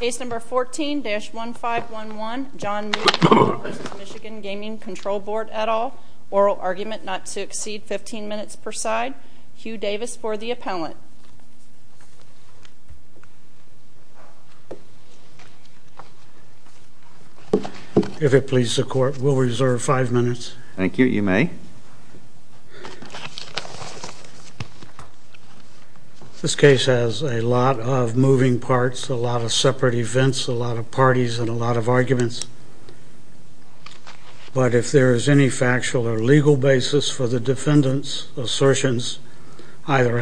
Case number 14-1511, John Moody v. Michigan Gaming Control Board, et al. Oral argument not to exceed 15 minutes per side. Hugh Davis for the appellant. If it pleases the court, we'll reserve five minutes. Thank you. You may. This case has a lot of moving parts, a lot of separate events, a lot of parties, and a lot of arguments. But if there is any factual or legal basis for the defendant's assertions, either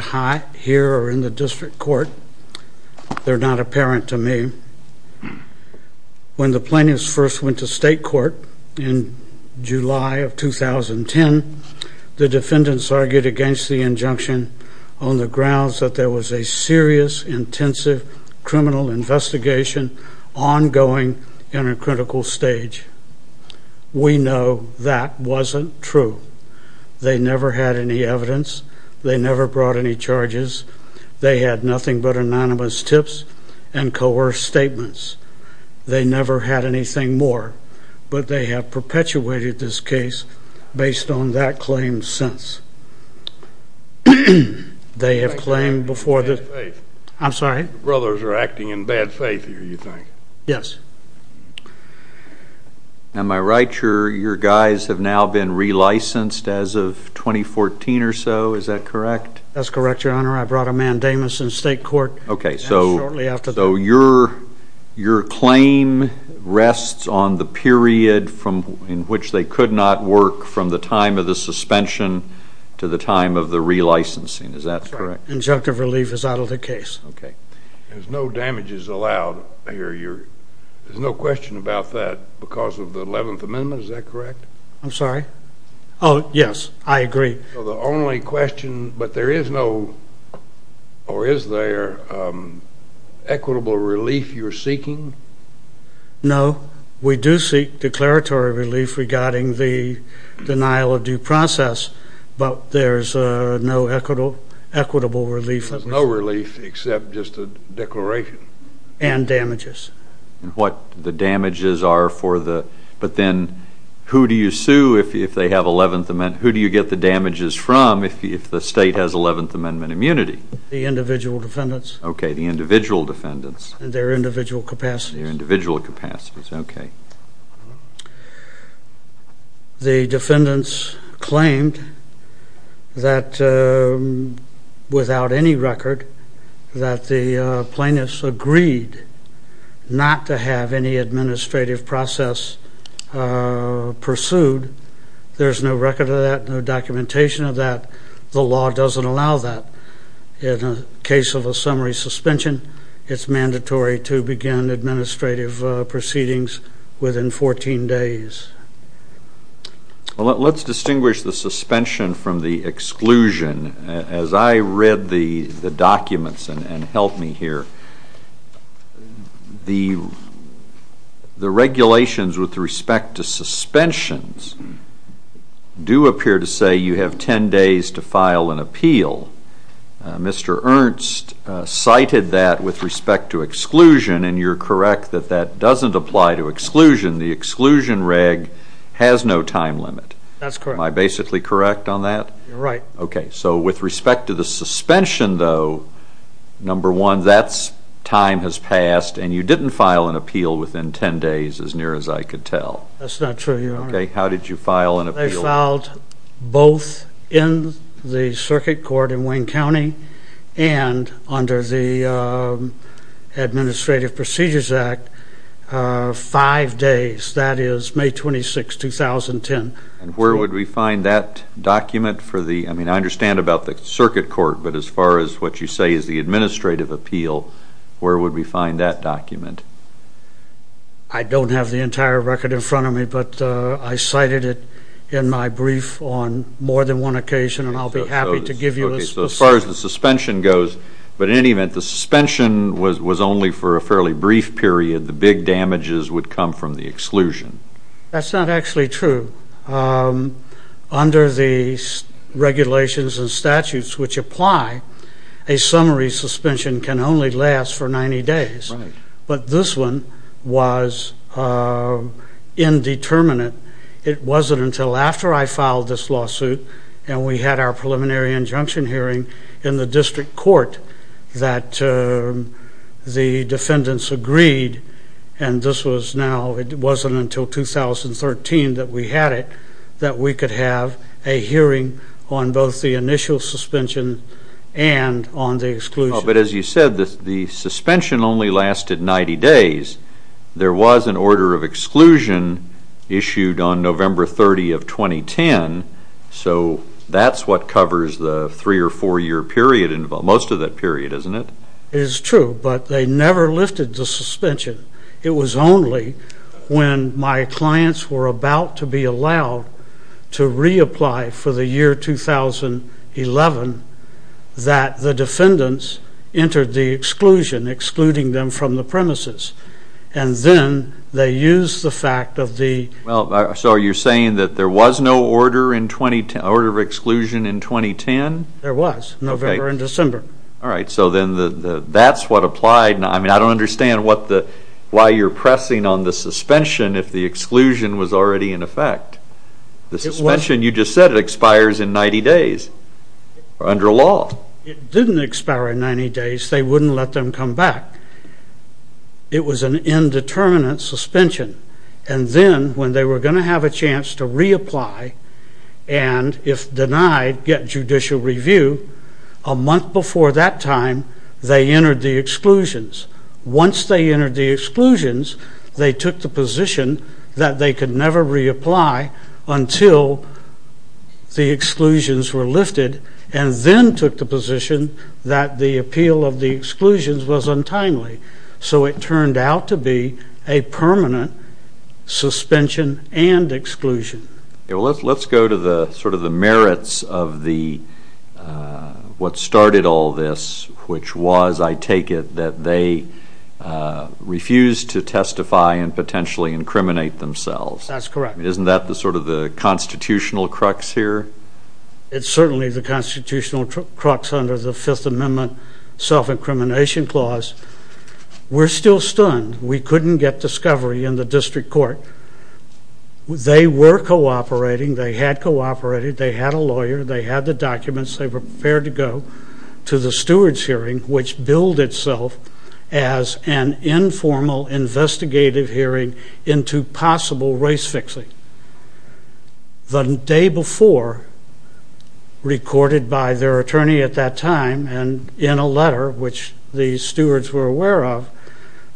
here or in the district court, they're not apparent to me. When the plaintiffs first went to state court in July of 2010, the defendants argued against the injunction on the grounds that there was a serious, intensive criminal investigation ongoing in a critical stage. We know that wasn't true. They never had any evidence. They never brought any charges. They had nothing but anonymous tips and coerced statements. They never had anything more. But they have perpetuated this case based on that claim since. Am I right, your guys have now been re-licensed as of 2014 or so, is that correct? That's correct, your honor. I brought a mandamus in state court shortly after that. So your claim rests on the period in which they could not work from the time of the suspension to the time of the re-licensing, is that correct? Injunctive relief is out of the case. Okay. There's no damages allowed here. There's no question about that because of the 11th Amendment, is that correct? I'm sorry? Oh, yes, I agree. The only question, but there is no or is there equitable relief you're seeking? No. We do seek declaratory relief regarding the denial of due process, but there's no equitable relief. There's no relief except just a declaration. And damages. What the damages are for the, but then who do you sue if they have 11th Amendment, who do you get the damages from if the state has 11th Amendment immunity? The individual defendants. Okay, the individual defendants. And their individual capacities. Their individual capacities, okay. The defendants claimed that without any record that the plaintiffs agreed not to have any administrative process pursued. There's no record of that, no documentation of that. The law doesn't allow that. In a case of a summary suspension, it's mandatory to begin administrative proceedings within 14 days. Well, let's distinguish the suspension from the exclusion. As I read the documents and help me here, the regulations with respect to suspensions do appear to say you have 10 days to file an appeal. Mr. Ernst cited that with respect to exclusion, and you're correct that that doesn't apply to exclusion. The exclusion reg has no time limit. That's correct. Am I basically correct on that? You're right. Okay, so with respect to the suspension, though, number one, that time has passed, and you didn't file an appeal within 10 days, as near as I could tell. That's not true, Your Honor. Okay, how did you file an appeal? I filed both in the circuit court in Wayne County and under the Administrative Procedures Act five days, that is, May 26, 2010. And where would we find that document? I mean, I understand about the circuit court, but as far as what you say is the administrative appeal, where would we find that document? I don't have the entire record in front of me, but I cited it in my brief on more than one occasion, and I'll be happy to give you a specific. Okay, so as far as the suspension goes, but in any event, the suspension was only for a fairly brief period. The big damages would come from the exclusion. That's not actually true. Under the regulations and statutes which apply, a summary suspension can only last for 90 days. Right. But this one was indeterminate. It wasn't until after I filed this lawsuit and we had our preliminary injunction hearing in the district court that the defendants agreed, and this was now, it wasn't until 2013 that we had it, that we could have a hearing on both the initial suspension and on the exclusion. But as you said, the suspension only lasted 90 days. There was an order of exclusion issued on November 30 of 2010, so that's what covers the three- or four-year period, most of that period, isn't it? It is true, but they never lifted the suspension. It was only when my clients were about to be allowed to reapply for the year 2011 that the defendants entered the exclusion, excluding them from the premises, and then they used the fact of the Well, so you're saying that there was no order of exclusion in 2010? There was, November and December. All right. So then that's what applied. I mean, I don't understand why you're pressing on the suspension if the exclusion was already in effect. The suspension, you just said, expires in 90 days under law. It didn't expire in 90 days. They wouldn't let them come back. It was an indeterminate suspension. And then when they were going to have a chance to reapply and, if denied, get judicial review, a month before that time, they entered the exclusions. Once they entered the exclusions, they took the position that they could never reapply until the exclusions were lifted, and then took the position that the appeal of the exclusions was untimely. So it turned out to be a permanent suspension and exclusion. Well, let's go to sort of the merits of what started all this, which was, I take it, that they refused to testify and potentially incriminate themselves. That's correct. Isn't that sort of the constitutional crux here? It's certainly the constitutional crux under the Fifth Amendment self-incrimination clause. We're still stunned. We couldn't get discovery in the district court. They were cooperating. They had cooperated. They had a lawyer. They had the documents. They were prepared to go to the stewards' hearing, which billed itself as an informal investigative hearing into possible race fixing. The day before, recorded by their attorney at that time and in a letter, which the stewards were aware of,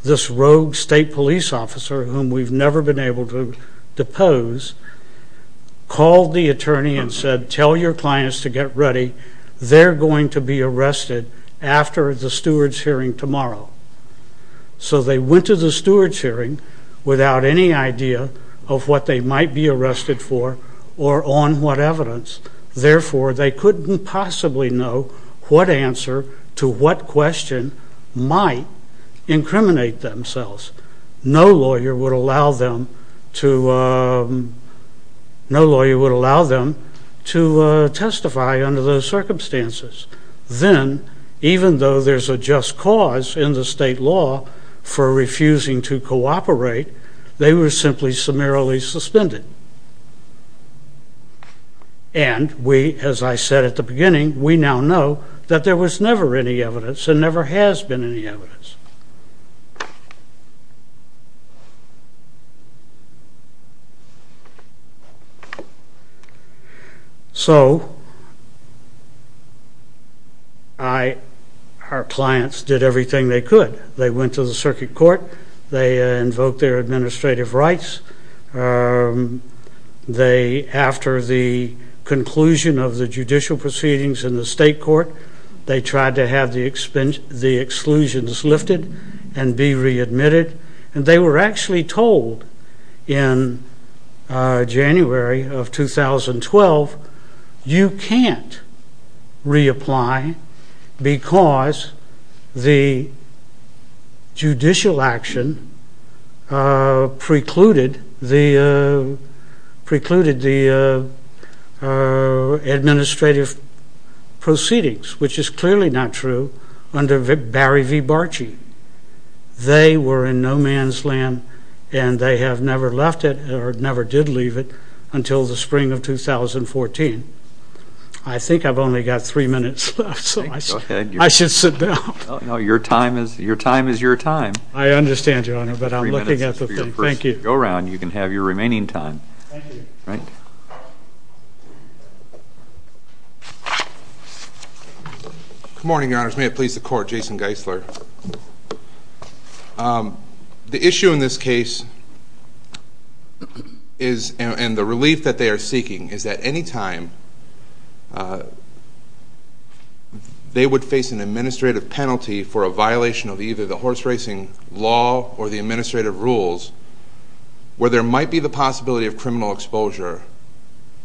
this rogue state police officer, whom we've never been able to depose, called the attorney and said, tell your clients to get ready. They're going to be arrested after the stewards' hearing tomorrow. So they went to the stewards' hearing without any idea of what they might be arrested for or on what evidence. Therefore, they couldn't possibly know what answer to what question might incriminate themselves. No lawyer would allow them to testify under those circumstances. Then, even though there's a just cause in the state law for refusing to cooperate, they were simply summarily suspended. And we, as I said at the beginning, we now know that there was never any evidence and never has been any evidence. So our clients did everything they could. They went to the circuit court. They invoked their administrative rights. After the conclusion of the judicial proceedings in the state court, they tried to have the exclusions lifted and be readmitted. And they were actually told in January of 2012, you can't reapply because the judicial action precluded the administrative proceedings, which is clearly not true under Barry v. Barchi. They were in no man's land. And they have never left it or never did leave it until the spring of 2014. I think I've only got three minutes left, so I should sit down. No, your time is your time. I understand, Your Honor, but I'm looking at the thing. Thank you. Go around. Thank you. Good morning, Your Honors. May it please the Court, Jason Geisler. The issue in this case and the relief that they are seeking is that any time they would face an administrative penalty for a violation of either the horse racing law or the administrative rules, where there might be the possibility of criminal exposure,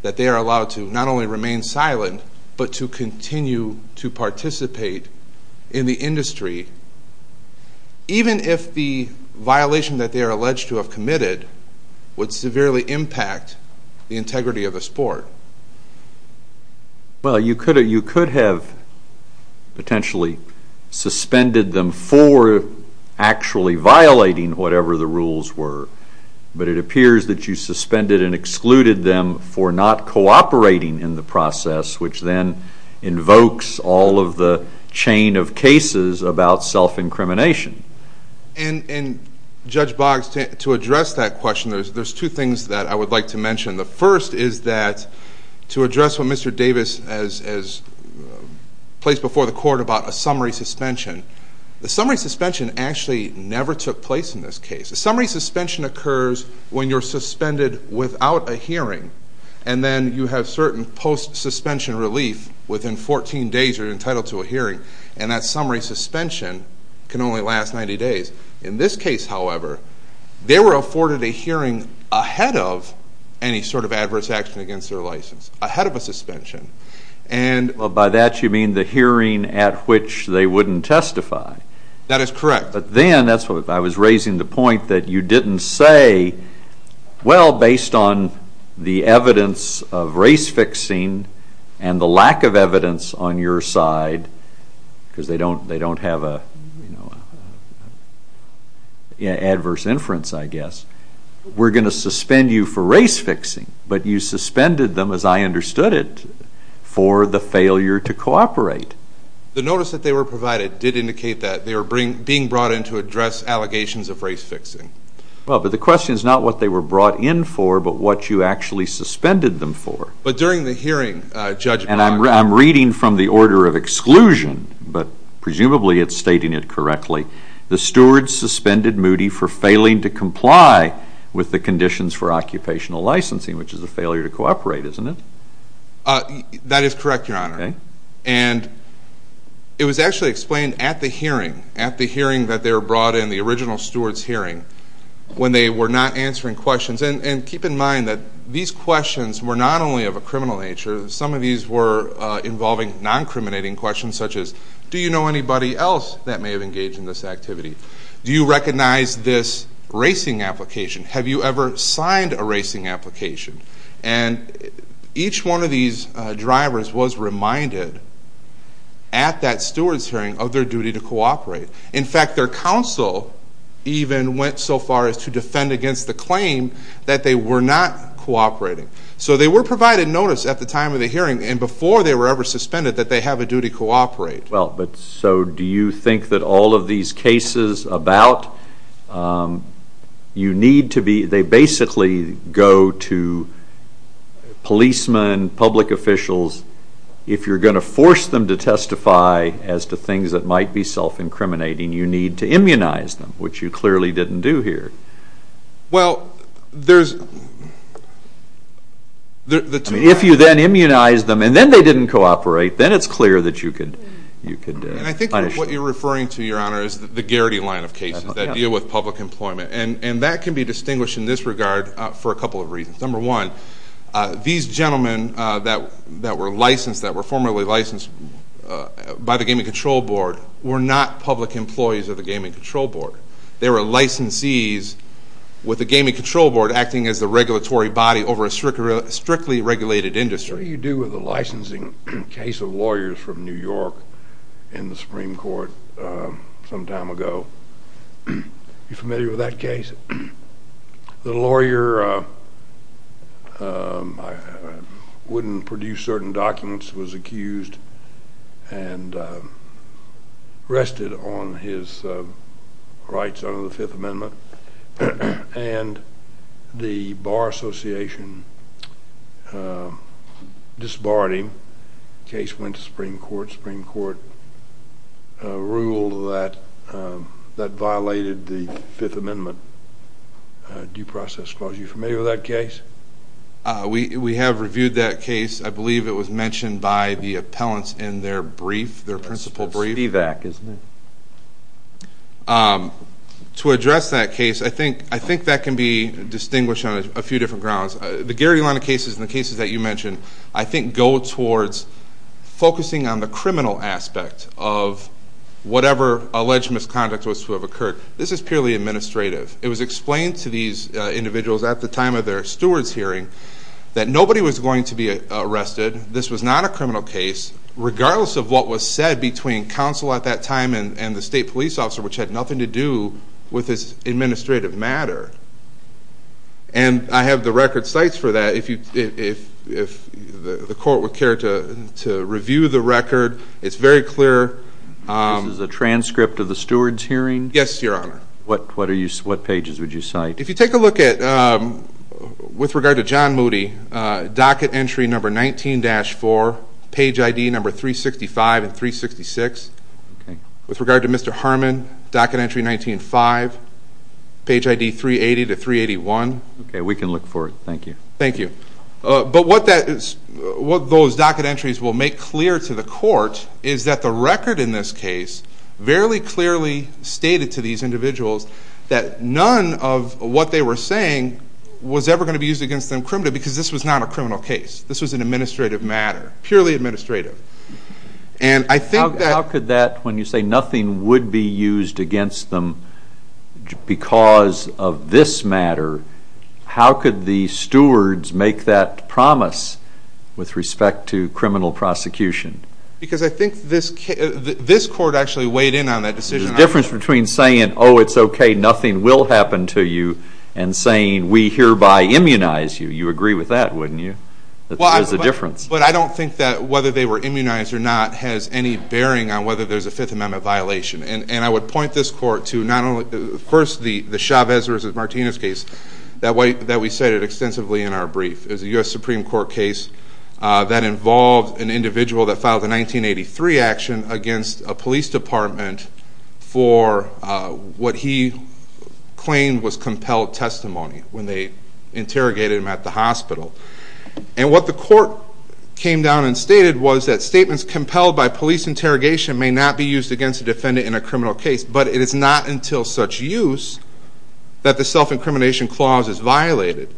that they are allowed to not only remain silent, but to continue to participate in the industry, even if the violation that they are alleged to have committed would severely impact the integrity of the sport. Well, you could have potentially suspended them for actually violating whatever the rules were, but it appears that you suspended and excluded them for not cooperating in the process, which then invokes all of the chain of cases about self-incrimination. And, Judge Boggs, to address that question, there's two things that I would like to mention. The first is that to address what Mr. Davis has placed before the Court about a summary suspension. The summary suspension actually never took place in this case. Summary suspension occurs when you're suspended without a hearing, and then you have certain post-suspension relief within 14 days you're entitled to a hearing, and that summary suspension can only last 90 days. In this case, however, they were afforded a hearing ahead of any sort of adverse action against their license, ahead of a suspension. By that you mean the hearing at which they wouldn't testify. That is correct. But then, I was raising the point that you didn't say, well, based on the evidence of race-fixing and the lack of evidence on your side, because they don't have an adverse inference, I guess, we're going to suspend you for race-fixing. But you suspended them, as I understood it, for the failure to cooperate. The notice that they were provided did indicate that. They were being brought in to address allegations of race-fixing. Well, but the question is not what they were brought in for, but what you actually suspended them for. But during the hearing, Judge Brock... And I'm reading from the order of exclusion, but presumably it's stating it correctly. The stewards suspended Moody for failing to comply with the conditions for occupational licensing, which is a failure to cooperate, isn't it? That is correct, Your Honor. And it was actually explained at the hearing, at the hearing that they were brought in, the original stewards' hearing, when they were not answering questions. And keep in mind that these questions were not only of a criminal nature. Some of these were involving non-criminating questions, such as, do you know anybody else that may have engaged in this activity? Do you recognize this racing application? Have you ever signed a racing application? And each one of these drivers was reminded at that stewards' hearing of their duty to cooperate. In fact, their counsel even went so far as to defend against the claim that they were not cooperating. So they were provided notice at the time of the hearing, and before they were ever suspended, that they have a duty to cooperate. Well, but so do you think that all of these cases about, you need to be, they basically go to policemen, public officials, if you're going to force them to testify as to things that might be self-incriminating, you need to immunize them, which you clearly didn't do here. Well, there's, the two... And I think what you're referring to, Your Honor, is the Garrity line of cases that deal with public employment. And that can be distinguished in this regard for a couple of reasons. Number one, these gentlemen that were licensed, that were formerly licensed by the Gaming Control Board, were not public employees of the Gaming Control Board. They were licensees with the Gaming Control Board acting as the regulatory body over a strictly regulated industry. I'm sure you're familiar with the licensing case of lawyers from New York in the Supreme Court some time ago. You familiar with that case? The lawyer wouldn't produce certain documents, was accused and arrested on his rights under the Fifth Amendment. And the Bar Association disbarred him. The case went to the Supreme Court. The Supreme Court ruled that that violated the Fifth Amendment due process clause. Are you familiar with that case? We have reviewed that case. I believe it was mentioned by the appellants in their brief, their principal brief. Stevak, isn't it? To address that case, I think that can be distinguished on a few different grounds. The Garrity line of cases and the cases that you mentioned, I think, go towards focusing on the criminal aspect of whatever alleged misconduct was to have occurred. This is purely administrative. It was explained to these individuals at the time of their steward's hearing that nobody was going to be arrested. This was not a criminal case, regardless of what was said between counsel at that time and the state police officer, which had nothing to do with this administrative matter. And I have the record sites for that. If the court would care to review the record, it's very clear. This is a transcript of the steward's hearing? Yes, Your Honor. What pages would you cite? If you take a look at, with regard to John Moody, docket entry number 19-4, page ID number 365 and 366. With regard to Mr. Harmon, docket entry 19-5, page ID 380 to 381. Okay, we can look for it. Thank you. Thank you. But what those docket entries will make clear to the court is that the record in this case fairly clearly stated to these individuals that none of what they were saying was ever going to be used against them criminally because this was not a criminal case. This was an administrative matter, purely administrative. How could that, when you say nothing would be used against them because of this matter, how could the stewards make that promise with respect to criminal prosecution? Because I think this court actually weighed in on that decision. There's a difference between saying, oh, it's okay, nothing will happen to you, and saying we hereby immunize you. You agree with that, wouldn't you? There's a difference. But I don't think that whether they were immunized or not has any bearing on whether there's a Fifth Amendment violation. And I would point this court to not only, first, the Chavez versus Martinez case that we cited extensively in our brief. It was a U.S. Supreme Court case that involved an individual that filed a 1983 action against a police department for what he claimed was compelled testimony when they interrogated him at the hospital. And what the court came down and stated was that statements compelled by police interrogation may not be used against a defendant in a criminal case, but it is not until such use that the self-incrimination clause is violated.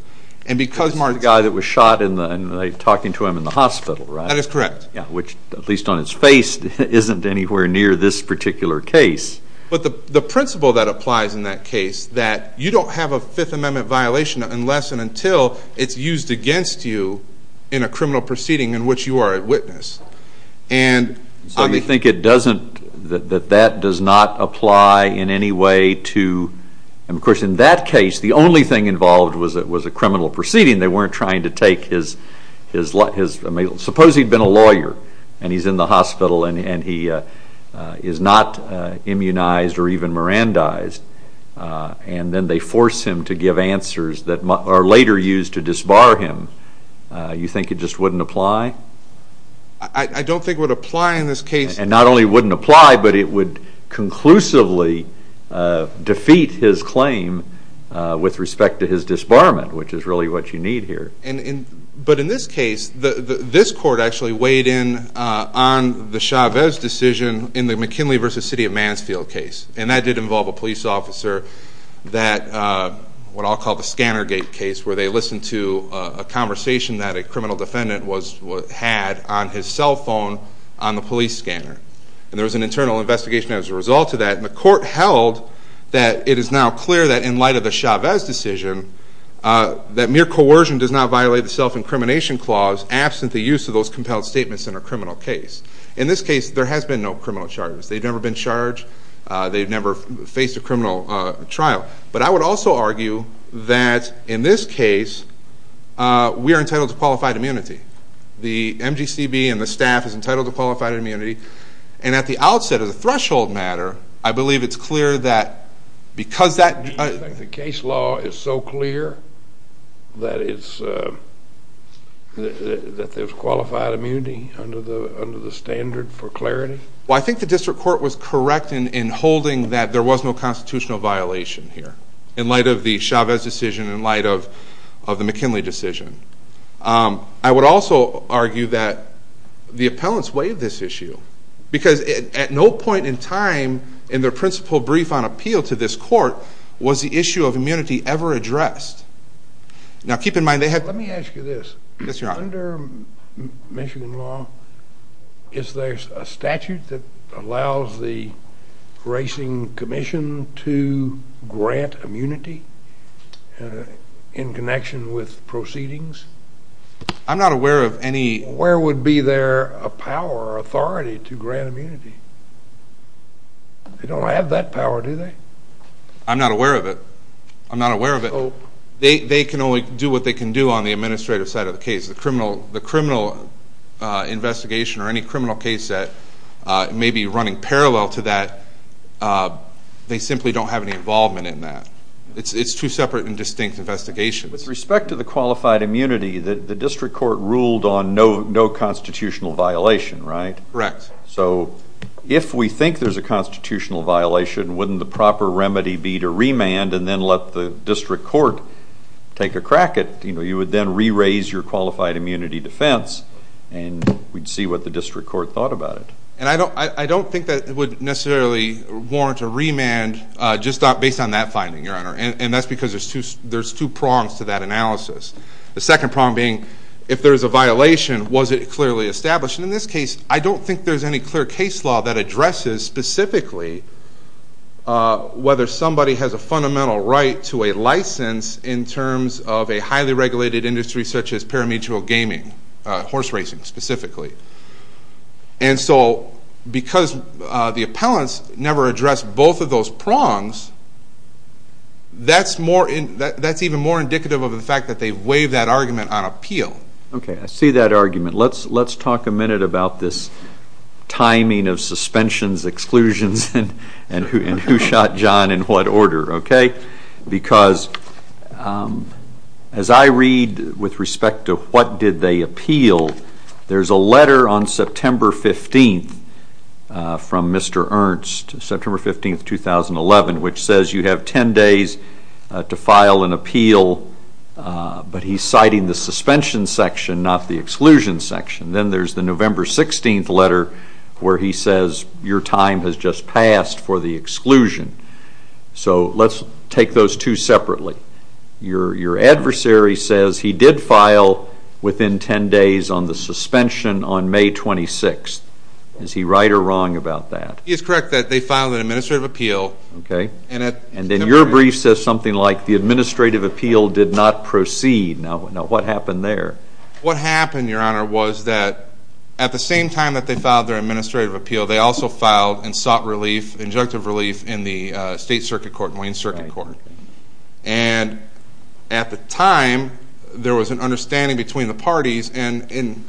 This is the guy that was shot and they're talking to him in the hospital, right? That is correct. Which, at least on its face, isn't anywhere near this particular case. But the principle that applies in that case, that you don't have a Fifth Amendment violation unless and until it's used against you in a criminal proceeding in which you are a witness. So you think it doesn't, that that does not apply in any way to, and, of course, in that case the only thing involved was a criminal proceeding. They weren't trying to take his, suppose he'd been a lawyer and he's in the hospital and he is not immunized or even Mirandized, and then they force him to give answers that are later used to disbar him. You think it just wouldn't apply? I don't think it would apply in this case. And not only wouldn't it apply, but it would conclusively defeat his claim with respect to his disbarment, which is really what you need here. But in this case, this court actually weighed in on the Chavez decision in the McKinley v. City of Mansfield case, and that did involve a police officer that, what I'll call the scanner gate case, where they listened to a conversation that a criminal defendant had on his cell phone on the police scanner. And there was an internal investigation as a result of that, and the court held that it is now clear that in light of the Chavez decision that mere coercion does not violate the self-incrimination clause absent the use of those compelled statements in a criminal case. In this case, there has been no criminal charges. They've never been charged. They've never faced a criminal trial. But I would also argue that in this case, we are entitled to qualified immunity. The MGCB and the staff is entitled to qualified immunity. And at the outset of the threshold matter, I believe it's clear that because that... Do you think the case law is so clear that there's qualified immunity under the standard for clarity? Well, I think the district court was correct in holding that there was no constitutional violation here in light of the Chavez decision, in light of the McKinley decision. I would also argue that the appellants waived this issue because at no point in time in their principal brief on appeal to this court was the issue of immunity ever addressed. Now, keep in mind, they had... Let me ask you this. Yes, Your Honor. Under Michigan law, is there a statute that allows the racing commission to grant immunity in connection with proceedings? I'm not aware of any... Where would be there a power or authority to grant immunity? They don't have that power, do they? I'm not aware of it. I'm not aware of it. They can only do what they can do on the administrative side of the case. The criminal investigation or any criminal case that may be running parallel to that, they simply don't have any involvement in that. It's two separate and distinct investigations. With respect to the qualified immunity, the district court ruled on no constitutional violation, right? Correct. So if we think there's a constitutional violation, wouldn't the proper remedy be to remand and then let the district court take a crack at it? You would then re-raise your qualified immunity defense, and we'd see what the district court thought about it. And I don't think that it would necessarily warrant a remand just based on that finding, Your Honor, and that's because there's two prongs to that analysis. The second prong being, if there's a violation, was it clearly established? In this case, I don't think there's any clear case law that addresses specifically whether somebody has a fundamental right to a license in terms of a highly regulated industry such as parametrial gaming, horse racing specifically. And so because the appellants never addressed both of those prongs, that's even more indicative of the fact that they've waived that argument on appeal. Okay. I see that argument. Let's talk a minute about this timing of suspensions, exclusions, and who shot John in what order, okay? Because as I read with respect to what did they appeal, there's a letter on September 15th from Mr. Ernst, September 15th, 2011, which says you have 10 days to file an appeal, but he's citing the suspension section, not the exclusion section. Then there's the November 16th letter where he says your time has just passed for the exclusion. So let's take those two separately. Your adversary says he did file within 10 days on the suspension on May 26th. Is he right or wrong about that? He is correct that they filed an administrative appeal. Okay. And then your brief says something like the administrative appeal did not proceed. Now, what happened there? What happened, Your Honor, was that at the same time that they filed their administrative appeal, they also filed and sought injunctive relief in the state circuit court, Wayne Circuit Court. And at the time, there was an understanding between the parties, and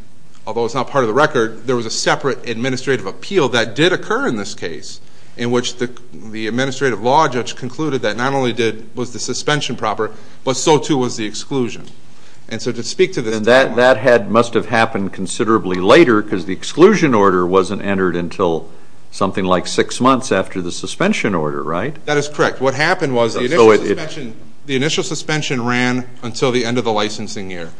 although it's not part of the record, there was a separate administrative appeal that did occur in this case, in which the administrative law judge concluded that not only was the suspension proper, but so too was the exclusion. And so to speak to this timeline. And that must have happened considerably later because the exclusion order wasn't entered until something like six months after the suspension order, right? That is correct. What happened was the initial suspension ran until the end of the licensing year.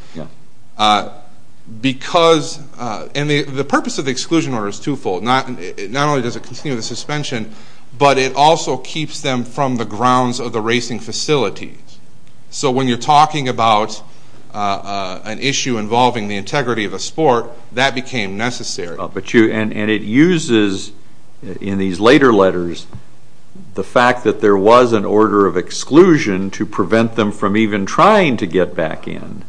Because, and the purpose of the exclusion order is twofold. Not only does it continue the suspension, but it also keeps them from the grounds of the racing facilities. So when you're talking about an issue involving the integrity of a sport, that became necessary. And it uses, in these later letters, the fact that there was an order of exclusion to prevent them from even trying to get back in,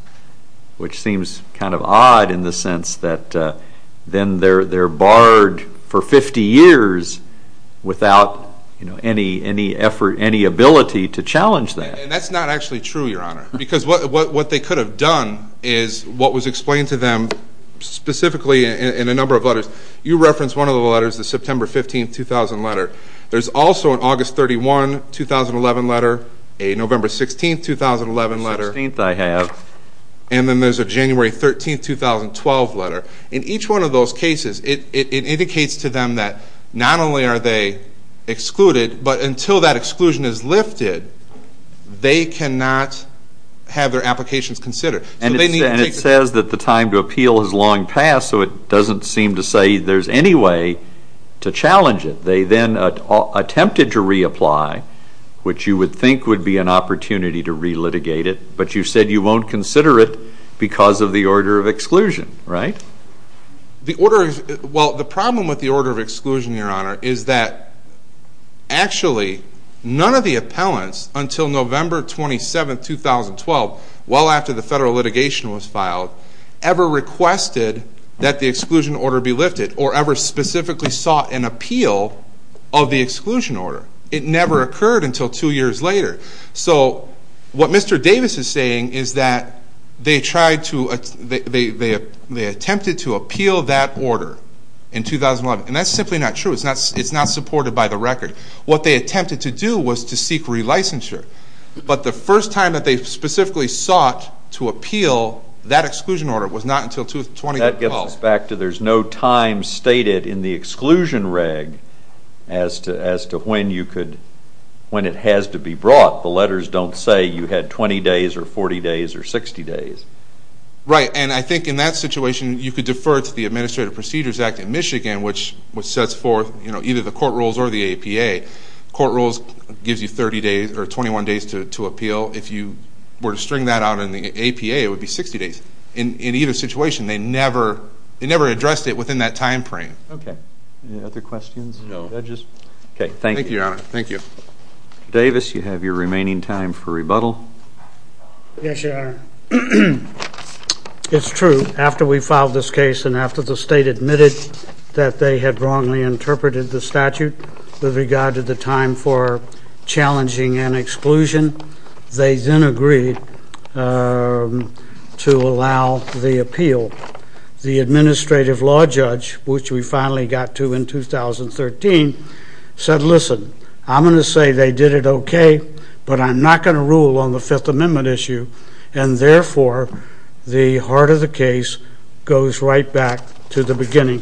which seems kind of odd in the sense that then they're barred for 50 years without any ability to challenge that. And that's not actually true, Your Honor. Because what they could have done is what was explained to them specifically in a number of letters. You referenced one of the letters, the September 15, 2000 letter. There's also an August 31, 2011 letter, a November 16, 2011 letter. The 16th I have. And then there's a January 13, 2012 letter. In each one of those cases, it indicates to them that not only are they excluded, but until that exclusion is lifted, they cannot have their applications considered. And it says that the time to appeal has long passed, so it doesn't seem to say there's any way to challenge it. They then attempted to reapply, which you would think would be an opportunity to relitigate it, but you said you won't consider it because of the order of exclusion, right? Well, the problem with the order of exclusion, Your Honor, is that actually none of the appellants until November 27, 2012, well after the federal litigation was filed, ever requested that the exclusion order be lifted or ever specifically sought an appeal of the exclusion order. It never occurred until two years later. So what Mr. Davis is saying is that they attempted to appeal that order in 2011, and that's simply not true. It's not supported by the record. What they attempted to do was to seek relicensure, but the first time that they specifically sought to appeal that exclusion order was not until 2012. There's no time stated in the exclusion reg as to when it has to be brought. The letters don't say you had 20 days or 40 days or 60 days. Right. And I think in that situation, you could defer to the Administrative Procedures Act in Michigan, which sets forth either the court rules or the APA. Court rules gives you 30 days or 21 days to appeal. If you were to string that out in the APA, it would be 60 days. In either situation, they never addressed it within that time frame. Okay. Any other questions? Okay, thank you. Thank you, Your Honor. Thank you. Mr. Davis, you have your remaining time for rebuttal. Yes, Your Honor. It's true. After we filed this case and after the state admitted that they had wrongly interpreted the statute with regard to the time for challenging an exclusion, they then agreed to allow the appeal. The Administrative Law Judge, which we finally got to in 2013, said, Listen, I'm going to say they did it okay, but I'm not going to rule on the Fifth Amendment issue. And therefore, the heart of the case goes right back to the beginning.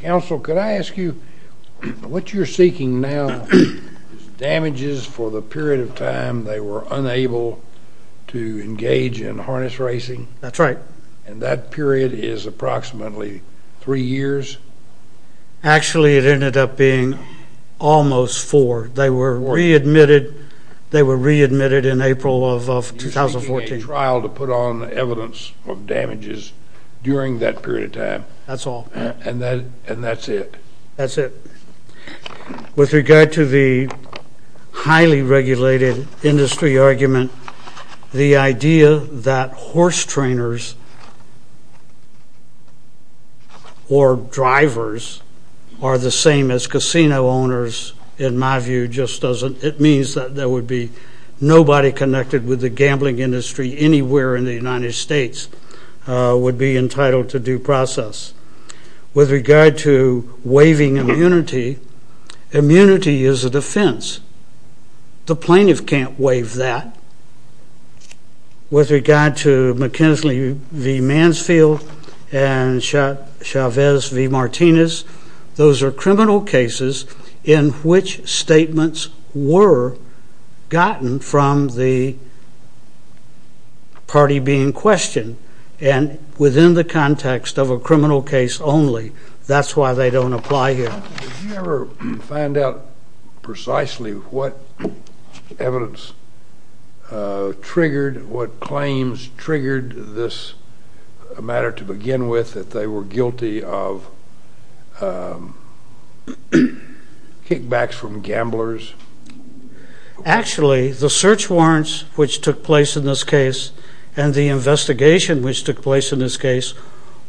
Counsel, could I ask you, what you're seeking now is damages for the period of time they were unable to engage in harness racing? That's right. And that period is approximately three years? Actually, it ended up being almost four. They were readmitted in April of 2014. to put on evidence of damages during that period of time. That's all. And that's it. That's it. With regard to the highly regulated industry argument, the idea that horse trainers or drivers are the same as casino owners, in my view, it means that there would be nobody connected with the gambling industry anywhere in the United States would be entitled to due process. With regard to waiving immunity, immunity is a defense. The plaintiff can't waive that. With regard to McKinsey v. Mansfield and Chavez v. Martinez, those are criminal cases in which statements were gotten from the party being questioned, and within the context of a criminal case only. That's why they don't apply here. Did you ever find out precisely what evidence triggered, what claims triggered this matter to begin with, that they were guilty of kickbacks from gamblers? Actually, the search warrants which took place in this case and the investigation which took place in this case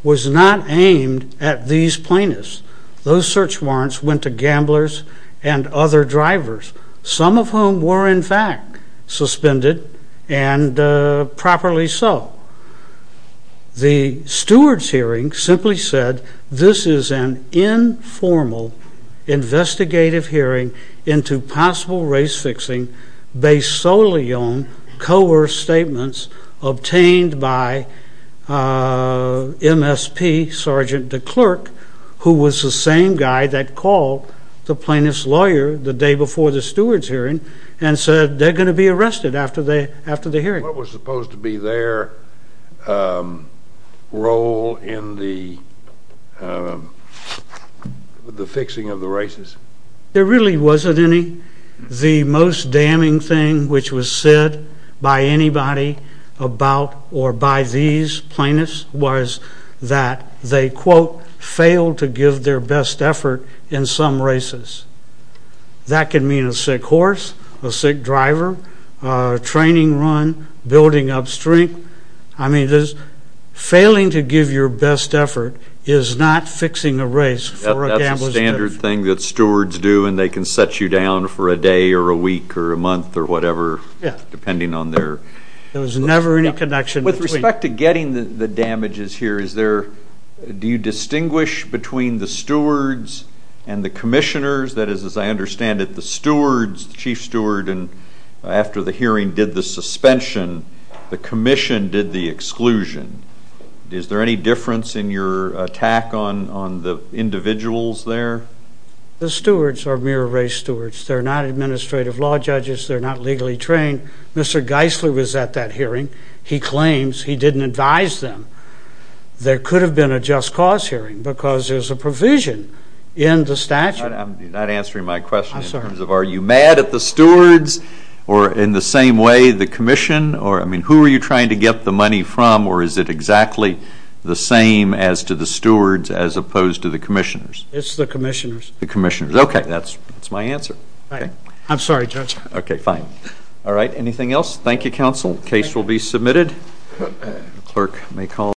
was not aimed at these plaintiffs. Those search warrants went to gamblers and other drivers, some of whom were, in fact, suspended, and properly so. The stewards' hearing simply said this is an informal investigative hearing into possible race-fixing based solely on coerced statements obtained by MSP Sergeant DeClerc, who was the same guy that called the plaintiff's lawyer the day before the stewards' hearing and said they're going to be arrested after the hearing. What was supposed to be their role in the fixing of the races? There really wasn't any. The most damning thing which was said by anybody about or by these plaintiffs was that they, quote, failed to give their best effort in some races. That can mean a sick horse, a sick driver, training run, building up strength. I mean, failing to give your best effort is not fixing a race for a gambler's benefit. That's a standard thing that stewards do, and they can set you down for a day or a week or a month or whatever, depending on their... There was never any connection between... That is, as I understand it, the stewards, the chief steward, after the hearing, did the suspension. The commission did the exclusion. Is there any difference in your attack on the individuals there? The stewards are mere race stewards. They're not administrative law judges. They're not legally trained. Mr. Geisler was at that hearing. He claims he didn't advise them. There could have been a just cause hearing because there's a provision in the statute. I'm not answering my question in terms of are you mad at the stewards or in the same way the commission? I mean, who are you trying to get the money from, or is it exactly the same as to the stewards as opposed to the commissioners? It's the commissioners. The commissioners. Okay. That's my answer. I'm sorry, Judge. Okay. Fine. All right. Anything else? Thank you, counsel. The case will be submitted. The clerk may call.